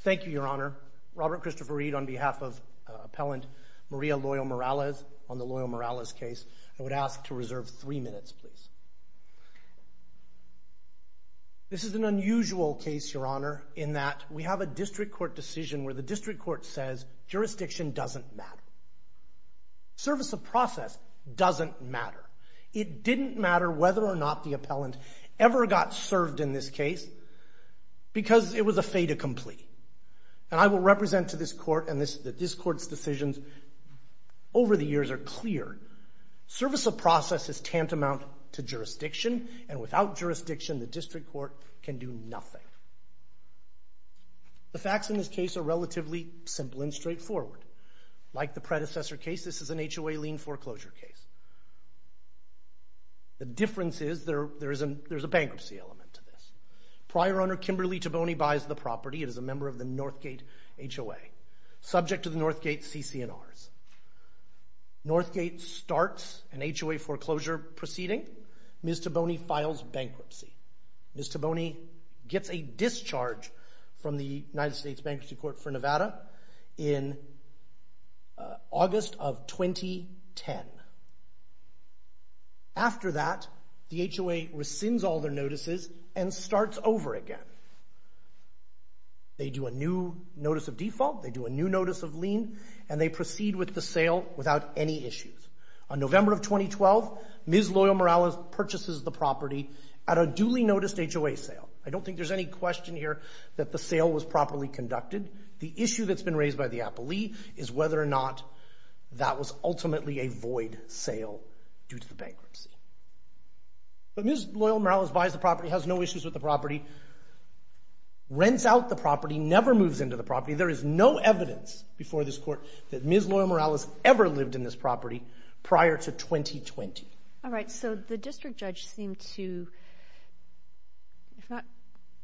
Thank you, Your Honor. Robert Christopher Reed on behalf of Appellant Maria Loyo-Morales on the Loyo-Morales case. I would ask to reserve three minutes, please. This is an unusual case, Your Honor, in that we have a district court decision where the district court says jurisdiction doesn't matter. Service of process doesn't matter. It didn't matter whether or not the appellant ever got served in this case because it was a fait accompli. And I will represent to this court and that this court's decisions over the years are clear. Service of process is tantamount to jurisdiction and without jurisdiction the district court can do nothing. The facts in this case are relatively simple and straightforward. Like the predecessor case, this is an HOA lien foreclosure case. The difference is there's a bankruptcy element to this. Prior owner Kimberly Taboney buys the property as a member of the Northgate HOA, subject to the Northgate CC&Rs. Northgate starts an HOA foreclosure proceeding. Ms. Taboney files bankruptcy. Ms. Taboney gets a discharge from the United States in August of 2010. After that, the HOA rescinds all their notices and starts over again. They do a new notice of default, they do a new notice of lien, and they proceed with the sale without any issues. On November of 2012, Ms. Loyal-Morales purchases the property at a duly noticed HOA sale. I don't think there's any question here that the sale was is whether or not that was ultimately a void sale due to the bankruptcy. But Ms. Loyal-Morales buys the property, has no issues with the property, rents out the property, never moves into the property. There is no evidence before this court that Ms. Loyal-Morales ever lived in this property prior to 2020. Alright, so the district judge seemed to, if not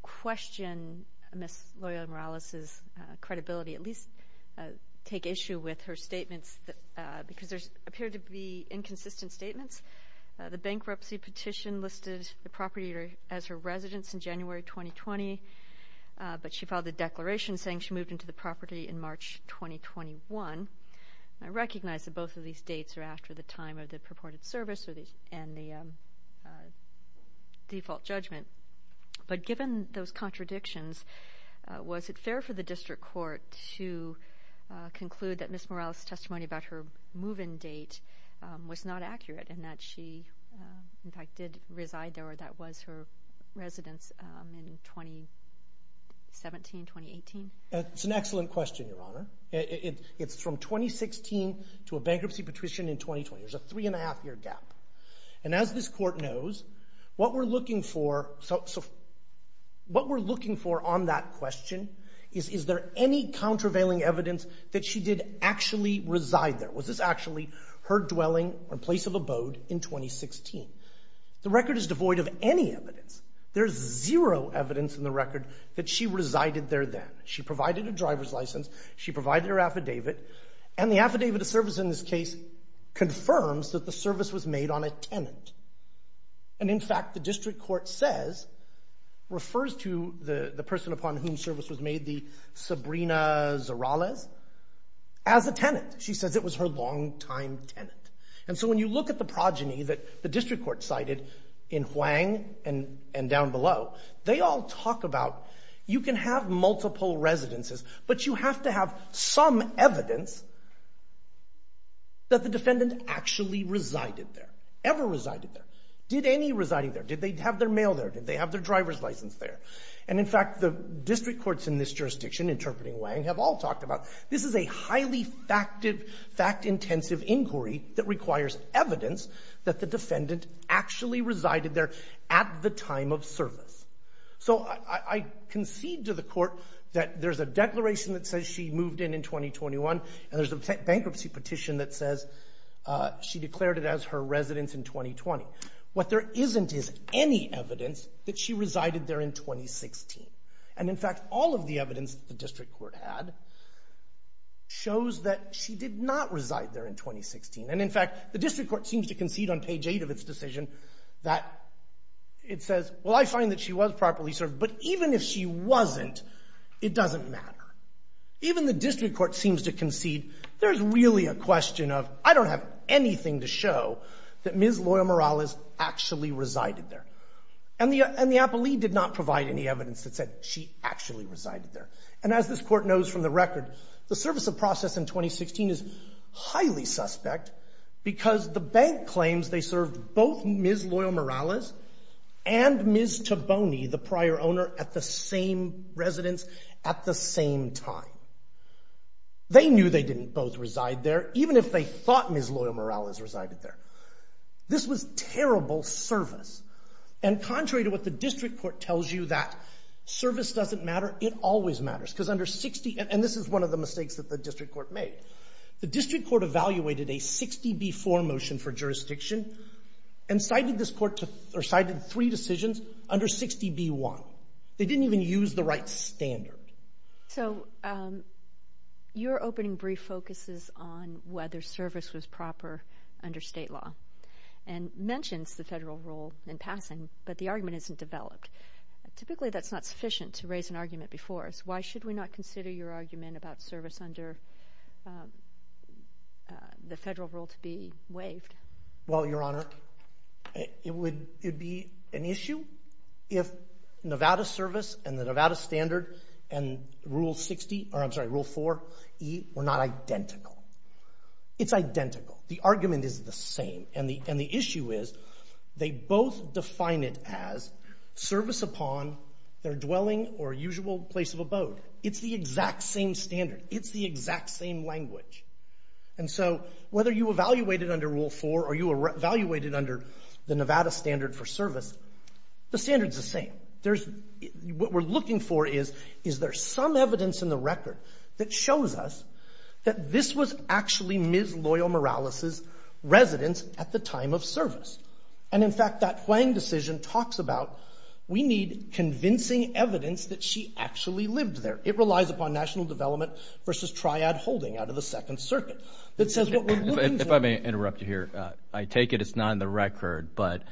question Ms. Loyal-Morales' credibility, at least take issue with her statements because there appeared to be inconsistent statements. The bankruptcy petition listed the property as her residence in January 2020, but she filed a declaration saying she moved into the property in March 2021. I recognize that both of these dates are after the time of the purported service and the default judgment. But given those contradictions, was it fair for the district court to conclude that Ms. Loyal-Morales' testimony about her move-in date was not accurate and that she, in fact, did reside there or that was her residence in 2017, 2018? That's an excellent question, Your Honor. It's from 2016 to a bankruptcy petition in January. So what we're looking for on that question is, is there any countervailing evidence that she did actually reside there? Was this actually her dwelling or place of abode in 2016? The record is devoid of any evidence. There's zero evidence in the record that she resided there then. She provided a driver's license. She provided her affidavit. And the affidavit of service in this case confirms that the service was made on a tenant. And in fact, the district court says, refers to the person upon whom service was made, the Sabrina Zorales, as a tenant. She says it was her longtime tenant. And so when you look at the progeny that the district court cited in Huang and down below, they all talk about you can have multiple residences, but you have to have some evidence that the defendant actually resided there, ever resided there. Did any residing there? Did they have their mail there? Did they have their driver's license there? And in fact, the district courts in this jurisdiction, interpreting Huang, have all talked about this is a highly fact-intensive inquiry that requires evidence that the defendant actually resided there at the time of service. So I concede to the court that there's a declaration that says she moved in in 2021 and there's a bankruptcy petition that says she declared it as her residence in 2020. What there isn't is any evidence that she resided there in 2016. And in fact, all of the evidence the district court had shows that she did not reside there in 2016. And in fact, the district court seems to concede on page eight of its decision that it says, well, I find that she was properly served, but even if she wasn't, it doesn't matter. Even the district court seems to concede there's really a question of, I don't have anything to show that Ms. Loyal-Morales actually resided there. And the appellee did not provide any evidence that said she actually resided there. And as this Court knows from the record, the service of process in 2016 is highly suspect because the bank claims they served both Ms. Loyal-Morales and Ms. Toboney, the prior owner, at the same residence at the same time. They knew they didn't both reside there, even if they thought Ms. Loyal-Morales resided there. This was terrible service. And contrary to what the district court tells you that service doesn't matter, it always matters. Because under 60, and this is one of the mistakes that the district court made. The district court evaluated a 60B4 motion for jurisdiction and cited this court to, or cited three decisions under 60B1. They didn't even use the right standard. So your opening brief focuses on whether service was proper under state law and mentions the federal rule in passing, but the argument isn't developed. Typically that's not sufficient to raise an argument before us. Why should we not consider your argument about service under the federal rule to be waived? Well, Your Honor, it would be an issue if Nevada service and the Nevada standard and Rule 60, or I'm sorry, Rule 4E were not identical. It's identical. The argument is the same. And the issue is they both define it as service upon their dwelling or usual place of abode. It's the exact same standard. It's the exact same language. And so whether you evaluate it under Rule 4 or you evaluate it under the Nevada standard for service, the standard's the same. There's, what we're looking for is, is there some evidence in the record that shows us that this was actually Ms. Loyal-Morales's at the time of service. And in fact, that Hwang decision talks about, we need convincing evidence that she actually lived there. It relies upon national development versus triad holding out of the Second Circuit. That says what we're looking for- If I may interrupt you here, I take it it's not in the record, but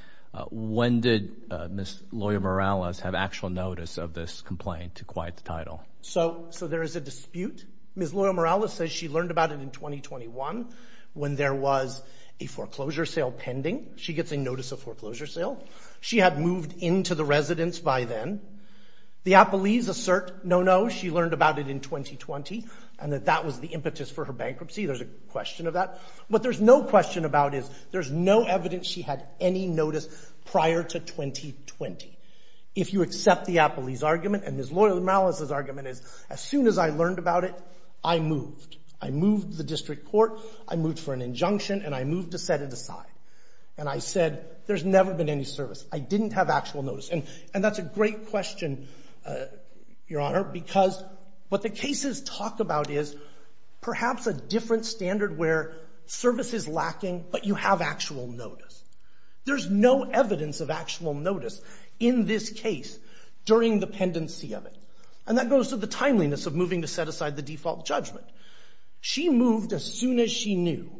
when did Ms. Loyal-Morales have actual notice of this complaint to quiet the title? So there is a dispute. Ms. Loyal-Morales says she learned about it in 2021 when there was a foreclosure sale pending. She gets a notice of foreclosure sale. She had moved into the residence by then. The Appellees assert, no, no, she learned about it in 2020 and that that was the impetus for her bankruptcy. There's a question of that. What there's no question about is there's no evidence she had any notice prior to 2020. If you accept the Appellee's argument and Ms. Loyal-Morales's argument is, as soon as I learned about it, I moved. I moved the district court. I moved for an injunction and I moved to set it aside. And I said, there's never been any service. I didn't have actual notice. And that's a great question, Your Honor, because what the cases talk about is perhaps a different standard where service is lacking, but you have actual notice. There's no evidence of actual notice in this case during the pendency of it. And that goes to the timeliness of moving to set aside the default judgment. She moved as soon as she knew,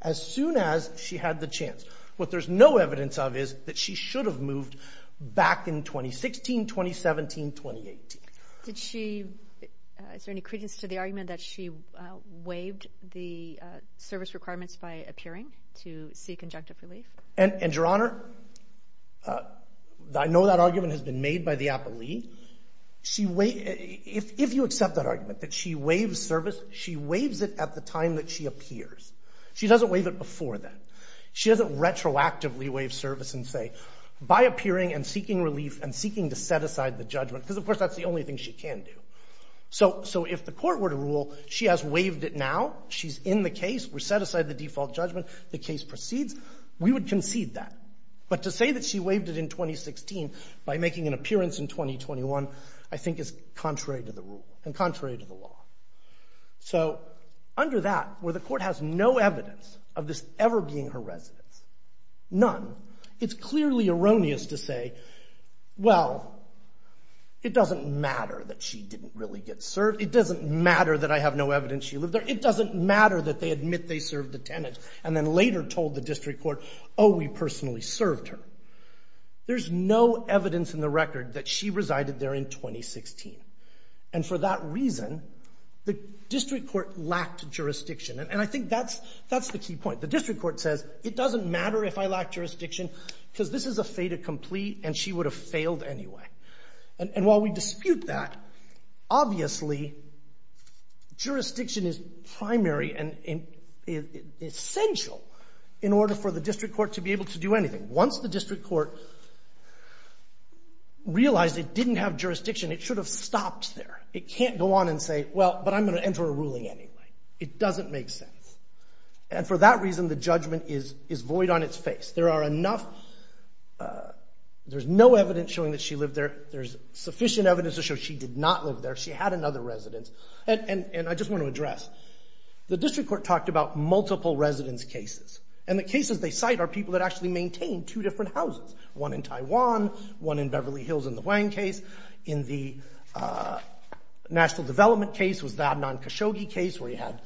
as soon as she had the chance. What there's no evidence of is that she should have moved back in 2016, 2017, 2018. Did she, is there any credence to the argument that she waived the service requirements by appearing to seek injunctive relief? And Your Honor, I know that argument has been made by the Appellee. If you accept that argument that she waives service, she waives it at the time that she appears. She doesn't waive it before then. She doesn't retroactively waive service and say, by appearing and seeking relief and seeking to set aside the judgment, because, of course, that's the only thing she can do. So if the court were to rule she has waived it now, she's in the case, we set aside the default judgment, the case proceeds, we would concede that. But to say that she waived it in 2016 by making an appearance in 2021, I think is contrary to the rule and contrary to the law. So under that, where the court has no evidence of this ever being her residence, none, it's clearly erroneous to say, well, it doesn't matter that she didn't really get served. It doesn't matter that I have no evidence she lived there. It doesn't matter that they admit they served the tenant and then later told the District Court, oh, we personally served her. There's no evidence in the record that she resided there in 2016. And for that reason, the District Court lacked jurisdiction. And I think that's the key point. The District Court says, it doesn't matter if I lack jurisdiction, because this is a fait accompli and she would have failed anyway. And while we dispute that, obviously, jurisdiction is primary and essential in order for the District Court to be able to do anything. Once the District Court realized it didn't have jurisdiction, it should have stopped there. It can't go on and say, well, but I'm going to enter a ruling anyway. It doesn't make sense. And for that reason, the judgment is void on its face. There are enough, there's no evidence showing that she lived there. There's sufficient evidence to show she did not live there. She had another residence. And I just want to address, the District Court talked about multiple residence cases. And the cases they cite are people that actually maintained two different houses, one in Taiwan, one in Beverly Hills in the Huang case. In the National Development case was the Adnan Khashoggi case, where he had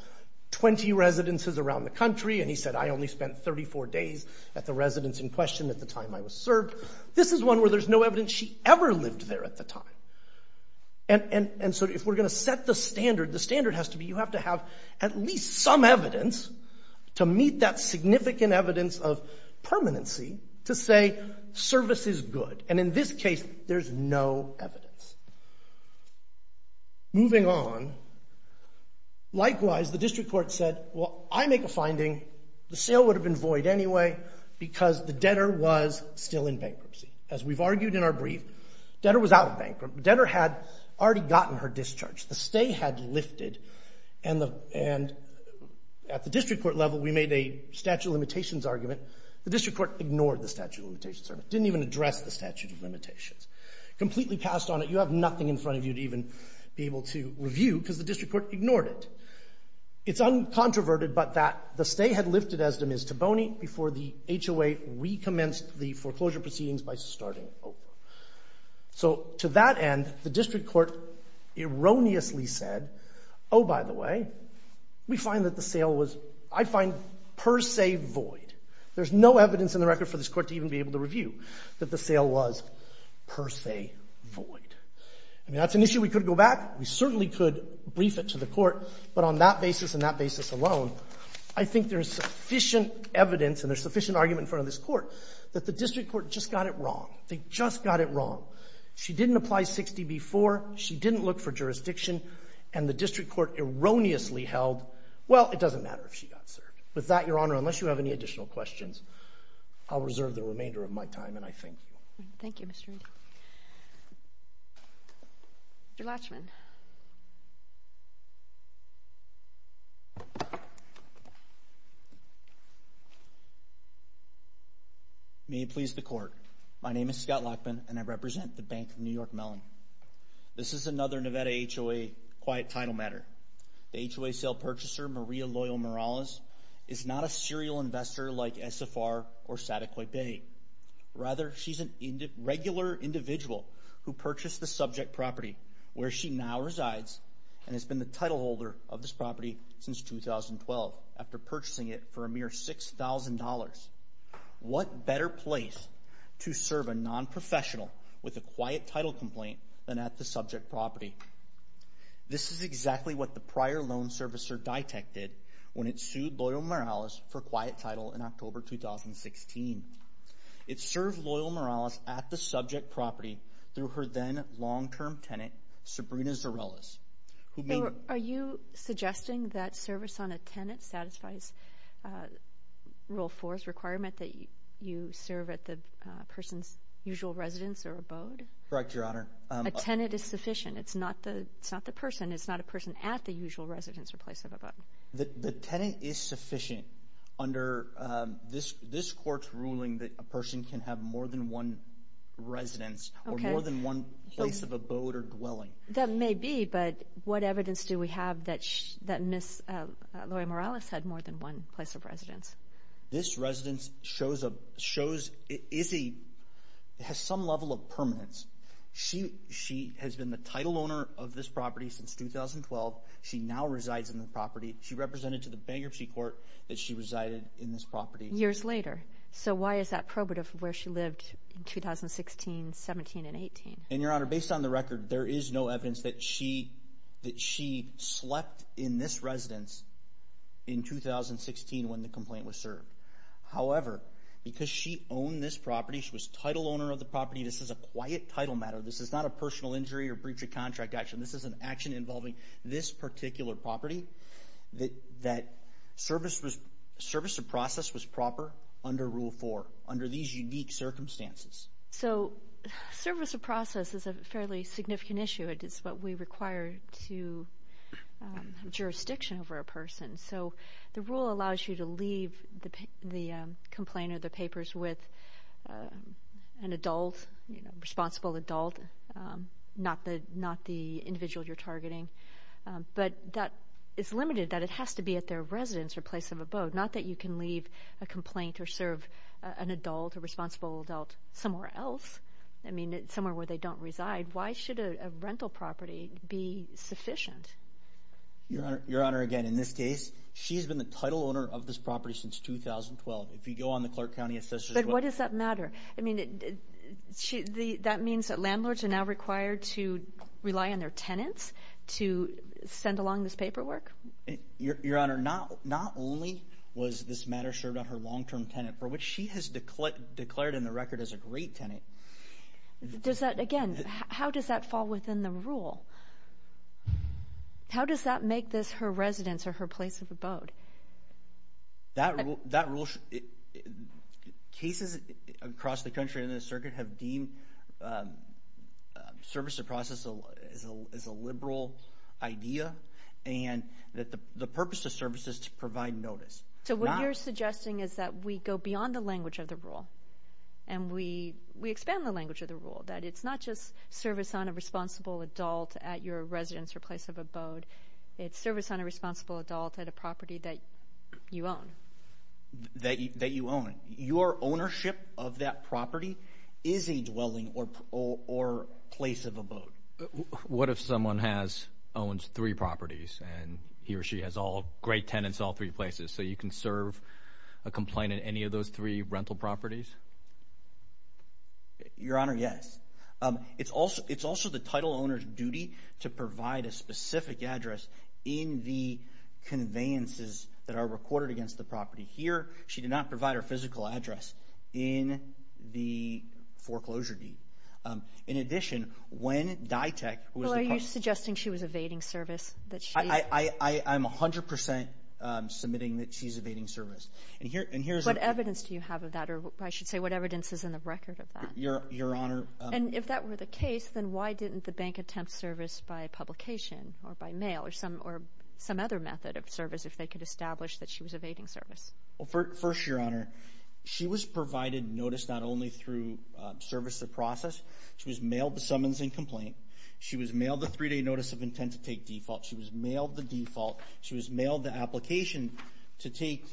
20 residences around the country. And he said, I only spent 34 days at the residence in question at the time I was served. This is one where there's no evidence she ever lived there at the time. And so if we're going to set the standard, the standard has to be you have to have at least enough evidence to meet that significant evidence of permanency to say service is good. And in this case, there's no evidence. Moving on, likewise, the District Court said, well, I make a finding, the sale would have been void anyway, because the debtor was still in bankruptcy. As we've argued in our brief, debtor was out of bankruptcy. Debtor had already gotten her discharge. The stay had lifted. And at the District Court level, we made a statute of limitations argument. The District Court ignored the statute of limitations. Didn't even address the statute of limitations. Completely passed on it. You have nothing in front of you to even be able to review, because the District Court ignored it. It's uncontroverted, but that the stay had lifted as demise to bony before the HOA recommenced the foreclosure proceedings by starting over. So to that end, the District Court erroneously said, oh, by the way, we find that the sale was, I find per se void. There's no evidence in the record for this court to even be able to review that the sale was per se void. I mean, that's an issue we could go back. We certainly could brief it to the court. But on that basis and that basis alone, I think there's sufficient evidence and there's sufficient argument in front of this court that the District Court just got it wrong. They just got it wrong. She didn't apply 60 before. She didn't look for jurisdiction. And the District Court erroneously held, well, it doesn't matter if she got served. With that, Your Honor, unless you have any additional questions, I'll reserve the remainder of my time and I thank you. Thank you, Mr. Reid. Mr. Latchman. May it please the Court. My name is Scott Latchman and I represent the Bank of New York Mellon. This is another Nevada HOA quiet title matter. The HOA sale purchaser, Maria Loyal Morales, is not a serial investor like SFR or Sataquipay. Rather, she's a regular individual who purchased the subject property where she now resides and has been the titleholder of this property since 2012 after purchasing it for a mere $6,000. What better place to serve a nonprofessional with a quiet title complaint than at the subject property? This is exactly what the prior loan servicer detected when it sued Loyal Morales for quiet title in October 2016. It served Loyal Morales at the subject property through her then long-term tenant, Sabrina Zarellas. Are you suggesting that service on a tenant satisfies Rule 4's requirement that you serve at the person's usual residence or abode? Correct, Your Honor. A tenant is sufficient. It's not the person. It's not a person at the usual residence or place of abode. The tenant is sufficient under this Court's ruling that a person can have more than one residence or more than one place of abode or dwelling. That may be, but what evidence do we have that Ms. Loyal Morales had more than one place of residence? This residence has some level of permanence. She has been the title owner of this property since 2012. She now resides in the property. She represented to the bankruptcy court that she lived in 2016, 17, and 18. Your Honor, based on the record, there is no evidence that she slept in this residence in 2016 when the complaint was served. However, because she owned this property, she was title owner of the property, this is a quiet title matter. This is not a personal injury or breach of contract action. This is an action involving this particular property that service of process was proper under Rule 4, under these unique circumstances. So service of process is a fairly significant issue. It is what we require to have jurisdiction over a person. So the rule allows you to leave the complaint or the papers with an adult, responsible adult, not the individual you're targeting. But that is limited, that it has to be at their residence or place of abode, not that you can leave a complaint or serve an adult, a responsible adult, somewhere else. I mean, somewhere where they don't reside. Why should a rental property be sufficient? Your Honor, again, in this case, she's been the title owner of this property since 2012. If you go on the Clark County Assessor's Report... But what does that matter? I mean, that means that landlords are now required to rely on their tenants to send along this paperwork? Your Honor, not only was this matter served on her long-term tenant, for which she has declared in the record as a great tenant... Does that, again, how does that fall within the rule? How does that make this her residence or her place of abode? That rule... Cases across the country and in the circuit have deemed service of process as a liberal idea, and that the purpose of service is to provide notice. So what you're suggesting is that we go beyond the language of the rule, and we expand the language of the rule, that it's not just service on a responsible adult at your residence or place of abode, it's service on a responsible adult at a property that you own. That you own. Your ownership of that property is a dwelling or place of abode. What if someone owns three properties, and he or she has great tenants in all three places, so you can serve a complaint in any of those three rental properties? Your Honor, yes. It's also the title owner's duty to provide a specific address in the conveyances that are recorded against the property. Here, she did not provide her physical address in the foreclosure deed. In addition, when DITEC... Well, are you suggesting she was evading service, that she... I'm 100% submitting that she's evading service. And here's a... What evidence do you have of that, or I should say, what evidence is in the record of that? Your Honor... And if that were the case, then why didn't the bank attempt service by publication or by mail or some other method of service if they could establish that she was evading service? Well, first, Your Honor, she was provided notice not only through service of process. She was mailed the summons and complaint. She was mailed the three-day notice of intent to take default. She was mailed the default. She was mailed the application to take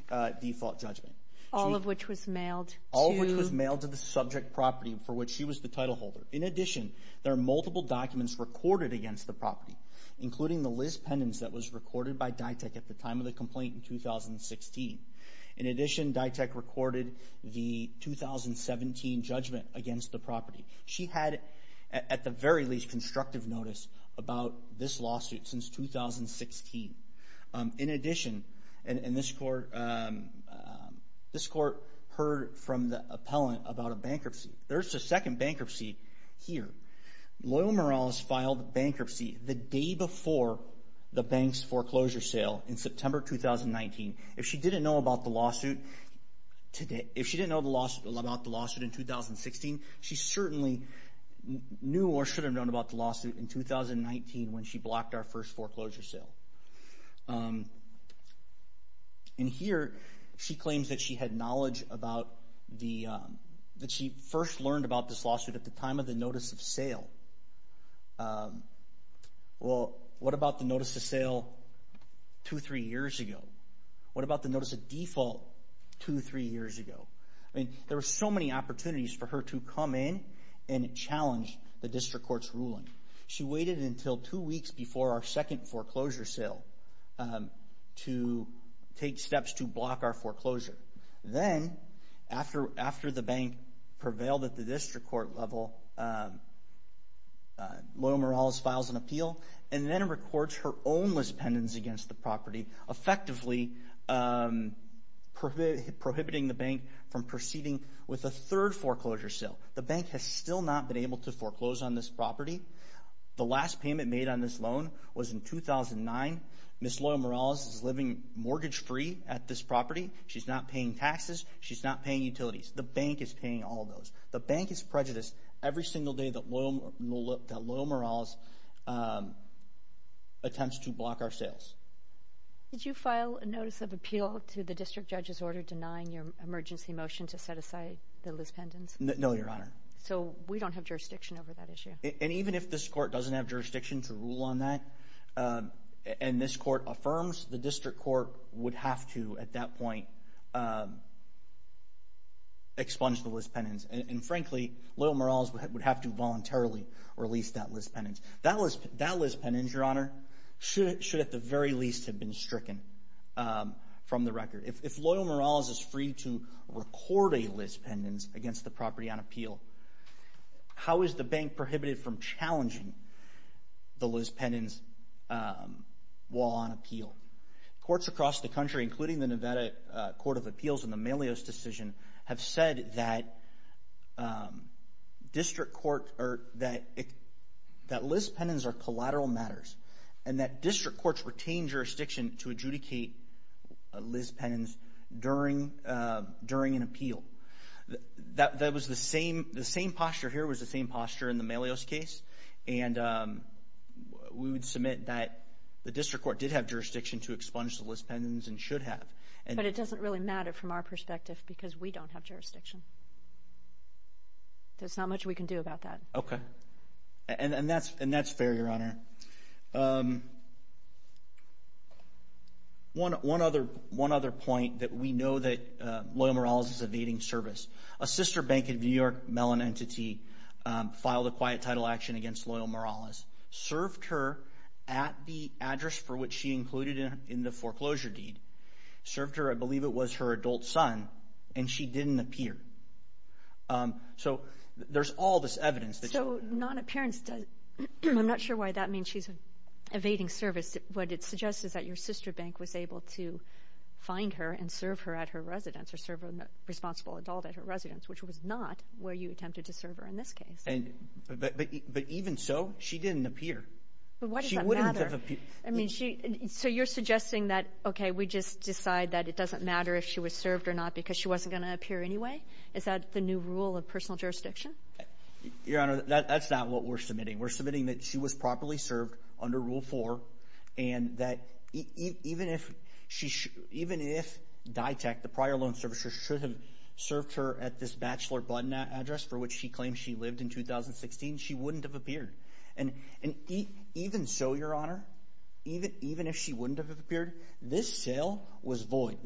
default judgment. All of which was mailed to... All of which was mailed to the subject property for which she was the title holder. In addition, there are multiple documents recorded against the property, including the Liz pendants that was recorded by DITEC at the time of the complaint in 2016. In addition, DITEC recorded the 2017 judgment against the property. She had, at the very least, constructive notice about this lawsuit since 2016. In addition, and this court heard from the appellant about a bankruptcy. There's a second bankruptcy here. Loyal Morales filed bankruptcy the day before the bank's foreclosure sale in September 2019. If she didn't know about the lawsuit in 2016, she certainly knew or should have known about the lawsuit in 2019 when she blocked our first foreclosure sale. In here, she claims that she had knowledge about the... That she first learned about this lawsuit at the time of the notice of sale. Well, what about the notice of sale two, three years ago? What about the notice of default two, three years ago? I mean, there were so many opportunities for her to come in and challenge the district court's ruling. She waited until two weeks before our second foreclosure sale to take steps to block our foreclosure. Then, after the bank prevailed at the district court level, Loyal Morales files an appeal and then records her own mispendence against the property, effectively prohibiting the bank from proceeding with a third foreclosure sale. The bank has still not been able to foreclose on this property. The last payment made on this loan was in 2009. Ms. Loyal Morales is living mortgage-free at this property. She's not paying taxes. She's not paying utilities. The bank is paying all those. The bank is prejudiced every single day that Loyal Morales attempts to block our sales. Did you file a notice of appeal to the district judge's order denying your emergency motion to set aside the mispendence? No, Your Honor. So, we don't have jurisdiction over that issue? And even if this court doesn't have jurisdiction to rule on that, and this court affirms, the district court would have to, at that point, expunge the mispendence. And frankly, Loyal Morales would have to voluntarily release that mispendence. That mispendence, Your Honor, should at the very least have been stricken from the record. If Loyal Morales is free to record a mispendence against the property on appeal, how is the bank prohibited from challenging the mispendence while on appeal? Courts across the country, including the Nevada Court of Appeals and the Melios decision, have said that mispendence are collateral matters, and that district courts retain jurisdiction to adjudicate a mispendence during an appeal. The same posture here was the same posture in the Melios case, and we would submit that the district court did have jurisdiction to expunge the mispendence and should have. But it doesn't really matter from our perspective because we don't have jurisdiction. There's not much we can do about that. And that's fair, Your Honor. One other point that we know that Loyal Morales is evading service. A sister bank in New York, Mellon Entity, filed a quiet title action against Loyal Morales, served her at the address for which she included in the foreclosure deed, served her, I believe it was her adult son, and she didn't appear. So there's all this evidence. So non-appearance, I'm not sure why that means she's evading service. What it suggests is that your sister bank was able to find her and serve her at her residence, or serve a responsible adult at her residence, which was not where you attempted to serve her in this case. But even so, she didn't appear. But why does that matter? So you're suggesting that, okay, we just decide that it doesn't matter if she was served or not because she wasn't going to appear anyway? Is that the new rule of personal jurisdiction? Your Honor, that's not what we're submitting. We're submitting that she was properly served under Rule 4, and that even if DITECH, the prior loan servicer, should have served her at this Batchelor Button address for which she claimed she lived in 2016, she wouldn't have appeared. And even so, Your Honor, even if she wouldn't have appeared, this sale was void.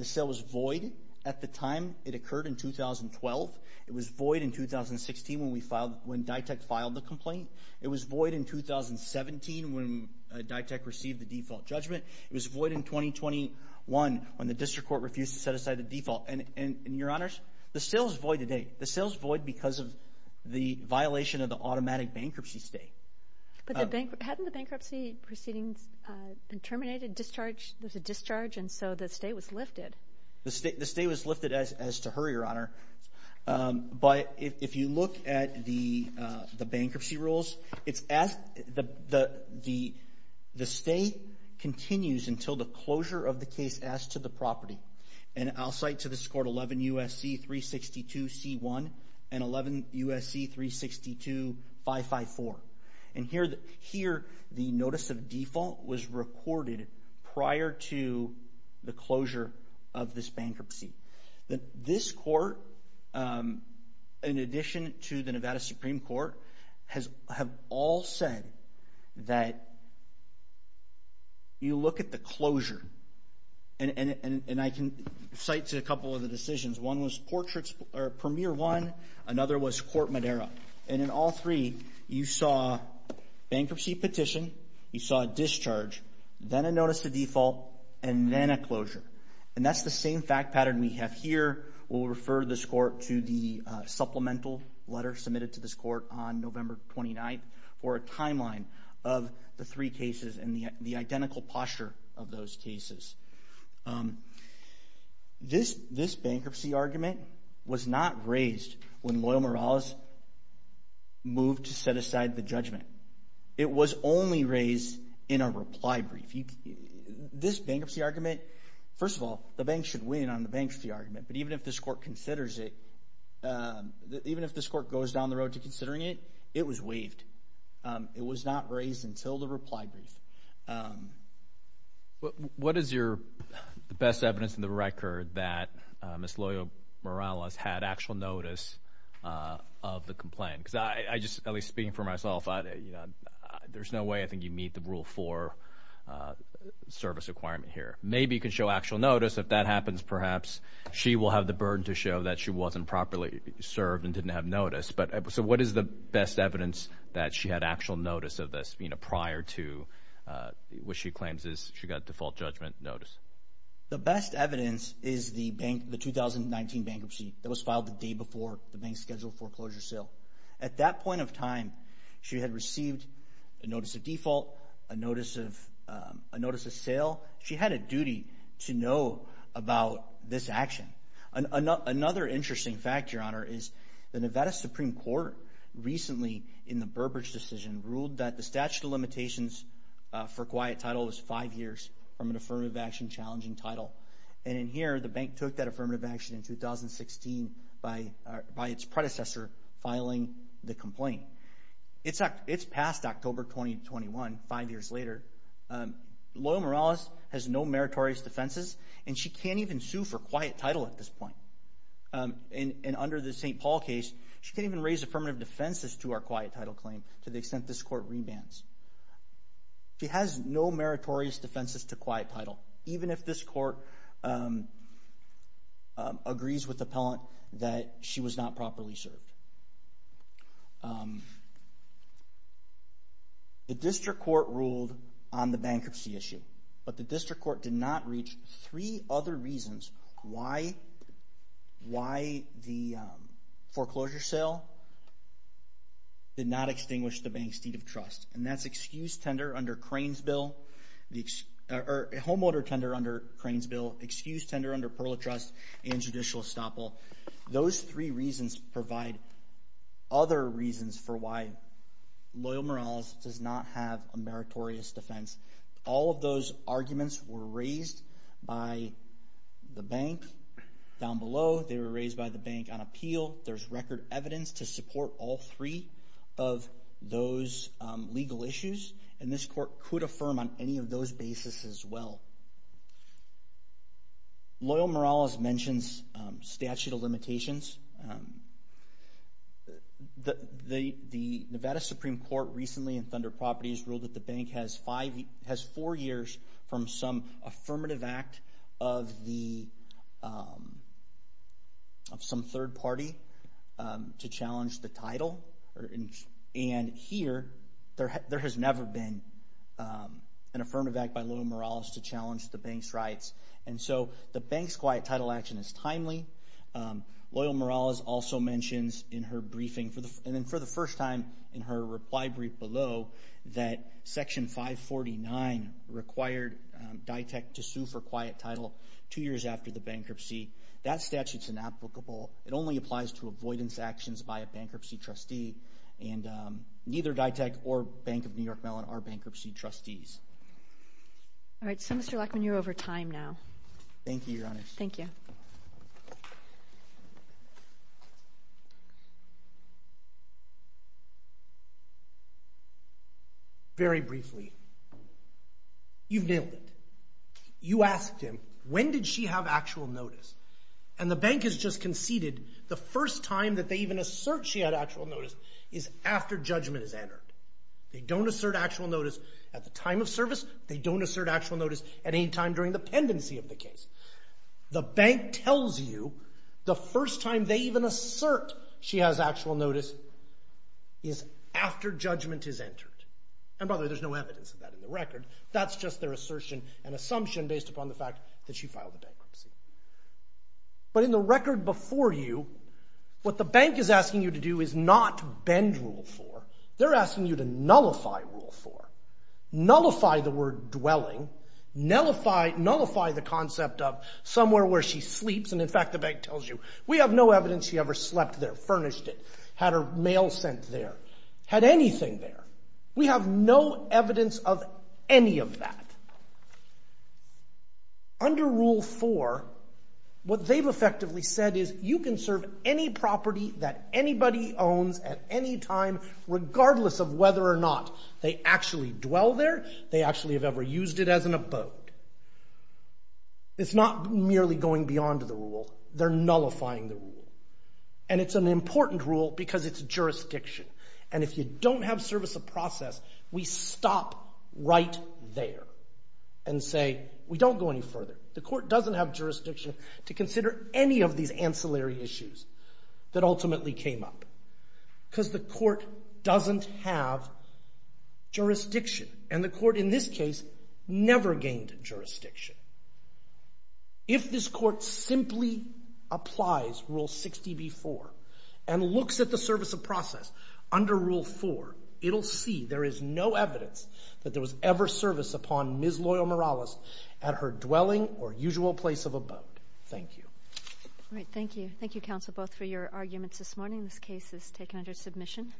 At the time, it occurred in 2012. It was void in 2016 when DITECH filed the complaint. It was void in 2017 when DITECH received the default judgment. It was void in 2021 when the District Court refused to set aside the default. And, Your Honors, the sale is void today. The sale is void because of the violation of the automatic bankruptcy state. But hadn't the bankruptcy proceedings been terminated, discharged? There was a discharge, and so the state was lifted. The state was lifted as to her, Your Honor. But if you look at the bankruptcy rules, the stay continues until the closure of the case as to the property. And I'll cite to this court 11 U.S.C. 362 C.1 and 11 U.S.C. 362 554. And here, the notice of default was recorded prior to the closure of this bankruptcy. This court, in addition to the Nevada Supreme Court, have all said that you look at the closure, and I can cite to a couple of the decisions. One was Premier 1, another was Court Madera. And in all three, you saw bankruptcy petition, you saw a discharge, then a notice of default, and then a closure. And that's the same fact pattern we have here. We'll refer this court to the supplemental letter submitted to this court on November 29th for a timeline of the three cases and the identical posture of those cases. This bankruptcy argument was not raised when Loyal Morales moved to set aside the judgment. It was only raised in a reply brief. This bankruptcy argument, first of all, the bank should win on the bankruptcy argument. But even if this court considers it, even if this court goes down the road to considering it, it was waived. It was not raised until the reply brief. What is your best evidence in the record that Ms. Loyal Morales had actual notice of the complaint? Because I just, at least speaking for myself, there's no way I think you'd meet the Rule 4 service requirement here. Maybe you could show actual notice. If that happens, perhaps she will have the burden to show that she wasn't properly served and didn't have notice. So what is the best evidence that she had actual notice of this prior to what she claims is she got default judgment notice? The best evidence is the 2019 bankruptcy that was filed the day before the bank scheduled foreclosure sale. At that point of time, she had received a notice of default, a notice of sale. She had a duty to know about this action. Another interesting fact, Your Honor, is the Nevada Supreme Court recently, in the Burbridge decision, ruled that the statute of limitations for quiet title was five years from an affirmative action challenging title. And in here, the bank took that affirmative action in 2016 by its predecessor filing the complaint. It's past October 2021, five years later. Loyal Morales has no meritorious defenses, and she can't even sue for quiet title at this point. And under the St. Paul case, she can't even raise affirmative defenses to our quiet title claim to the extent this court rebans. She has no meritorious defenses to quiet title, even if this court agrees with the appellant that she was not properly served. The district court ruled on the bankruptcy issue, but the district court did not reach three other reasons why the foreclosure sale did not extinguish the bank's deed of trust. And that's excused tender under Crane's bill, or homeowner tender under Crane's bill, excused tender under Perla Trust, and judicial estoppel. Those three reasons provide other reasons for why Loyal Morales does not have a meritorious defense. All of those arguments were raised by the bank down below. They were raised by the bank on appeal. There's record evidence to support all three of those legal issues, and this court could affirm on any of those basis as well. Loyal Morales mentions statute of limitations. The Nevada Supreme Court recently in Thunder Properties ruled that the bank has four years from some affirmative act of some third party to challenge the title. And here, there has never been an affirmative act by Loyal Morales to challenge the bank's rights. And so the bank's quiet title action is timely. Loyal Morales also mentions in her briefing, and then for the first time in her reply brief below, that Section 549 required DITEC to sue for quiet title two years after the bankruptcy. That statute's inapplicable. It only applies to avoidance actions by a bankruptcy trustee, and neither DITEC or Bank of New York Mellon are bankruptcy trustees. All right. So, Mr. Lachman, you're over time now. Thank you, Your Honor. Thank you. Very briefly, you've nailed it. You asked him, when did she have actual notice? And the bank has just conceded the first time that they even assert she had actual notice is after judgment is entered. They don't assert actual notice at the time of service. They don't assert actual notice at any time during the pendency of the case. The bank tells you the first time they even assert she has actual notice is after judgment is entered. And by the way, there's no evidence of that in the record. That's just their assertion and assumption based upon the fact that she filed a bankruptcy. But in the record before you, what the bank is asking you to do is not bend Rule 4. They're asking you to nullify Rule 4, nullify the word dwelling, nullify the concept of somewhere where she sleeps. And, in fact, the bank tells you, we have no evidence she ever slept there, furnished it, had her mail sent there, had anything there. We have no evidence of any of that. Under Rule 4, what they've effectively said is you can serve any property that anybody owns at any time regardless of whether or not they actually dwell there, they actually have ever used it as an abode. It's not merely going beyond the rule. They're nullifying the rule. And it's an important rule because it's jurisdiction. And if you don't have service of process, we stop right there and say we don't go any further. The court doesn't have jurisdiction to consider any of these ancillary issues that ultimately came up because the court doesn't have jurisdiction. And the court in this case never gained jurisdiction. If this court simply applies Rule 60b-4 and looks at the service of process under Rule 4, it'll see there is no evidence that there was ever service upon Ms. Loyal-Morales at her dwelling or usual place of abode. Thank you. All right, thank you. Thank you, counsel, both for your arguments this morning. This case is taken under submission.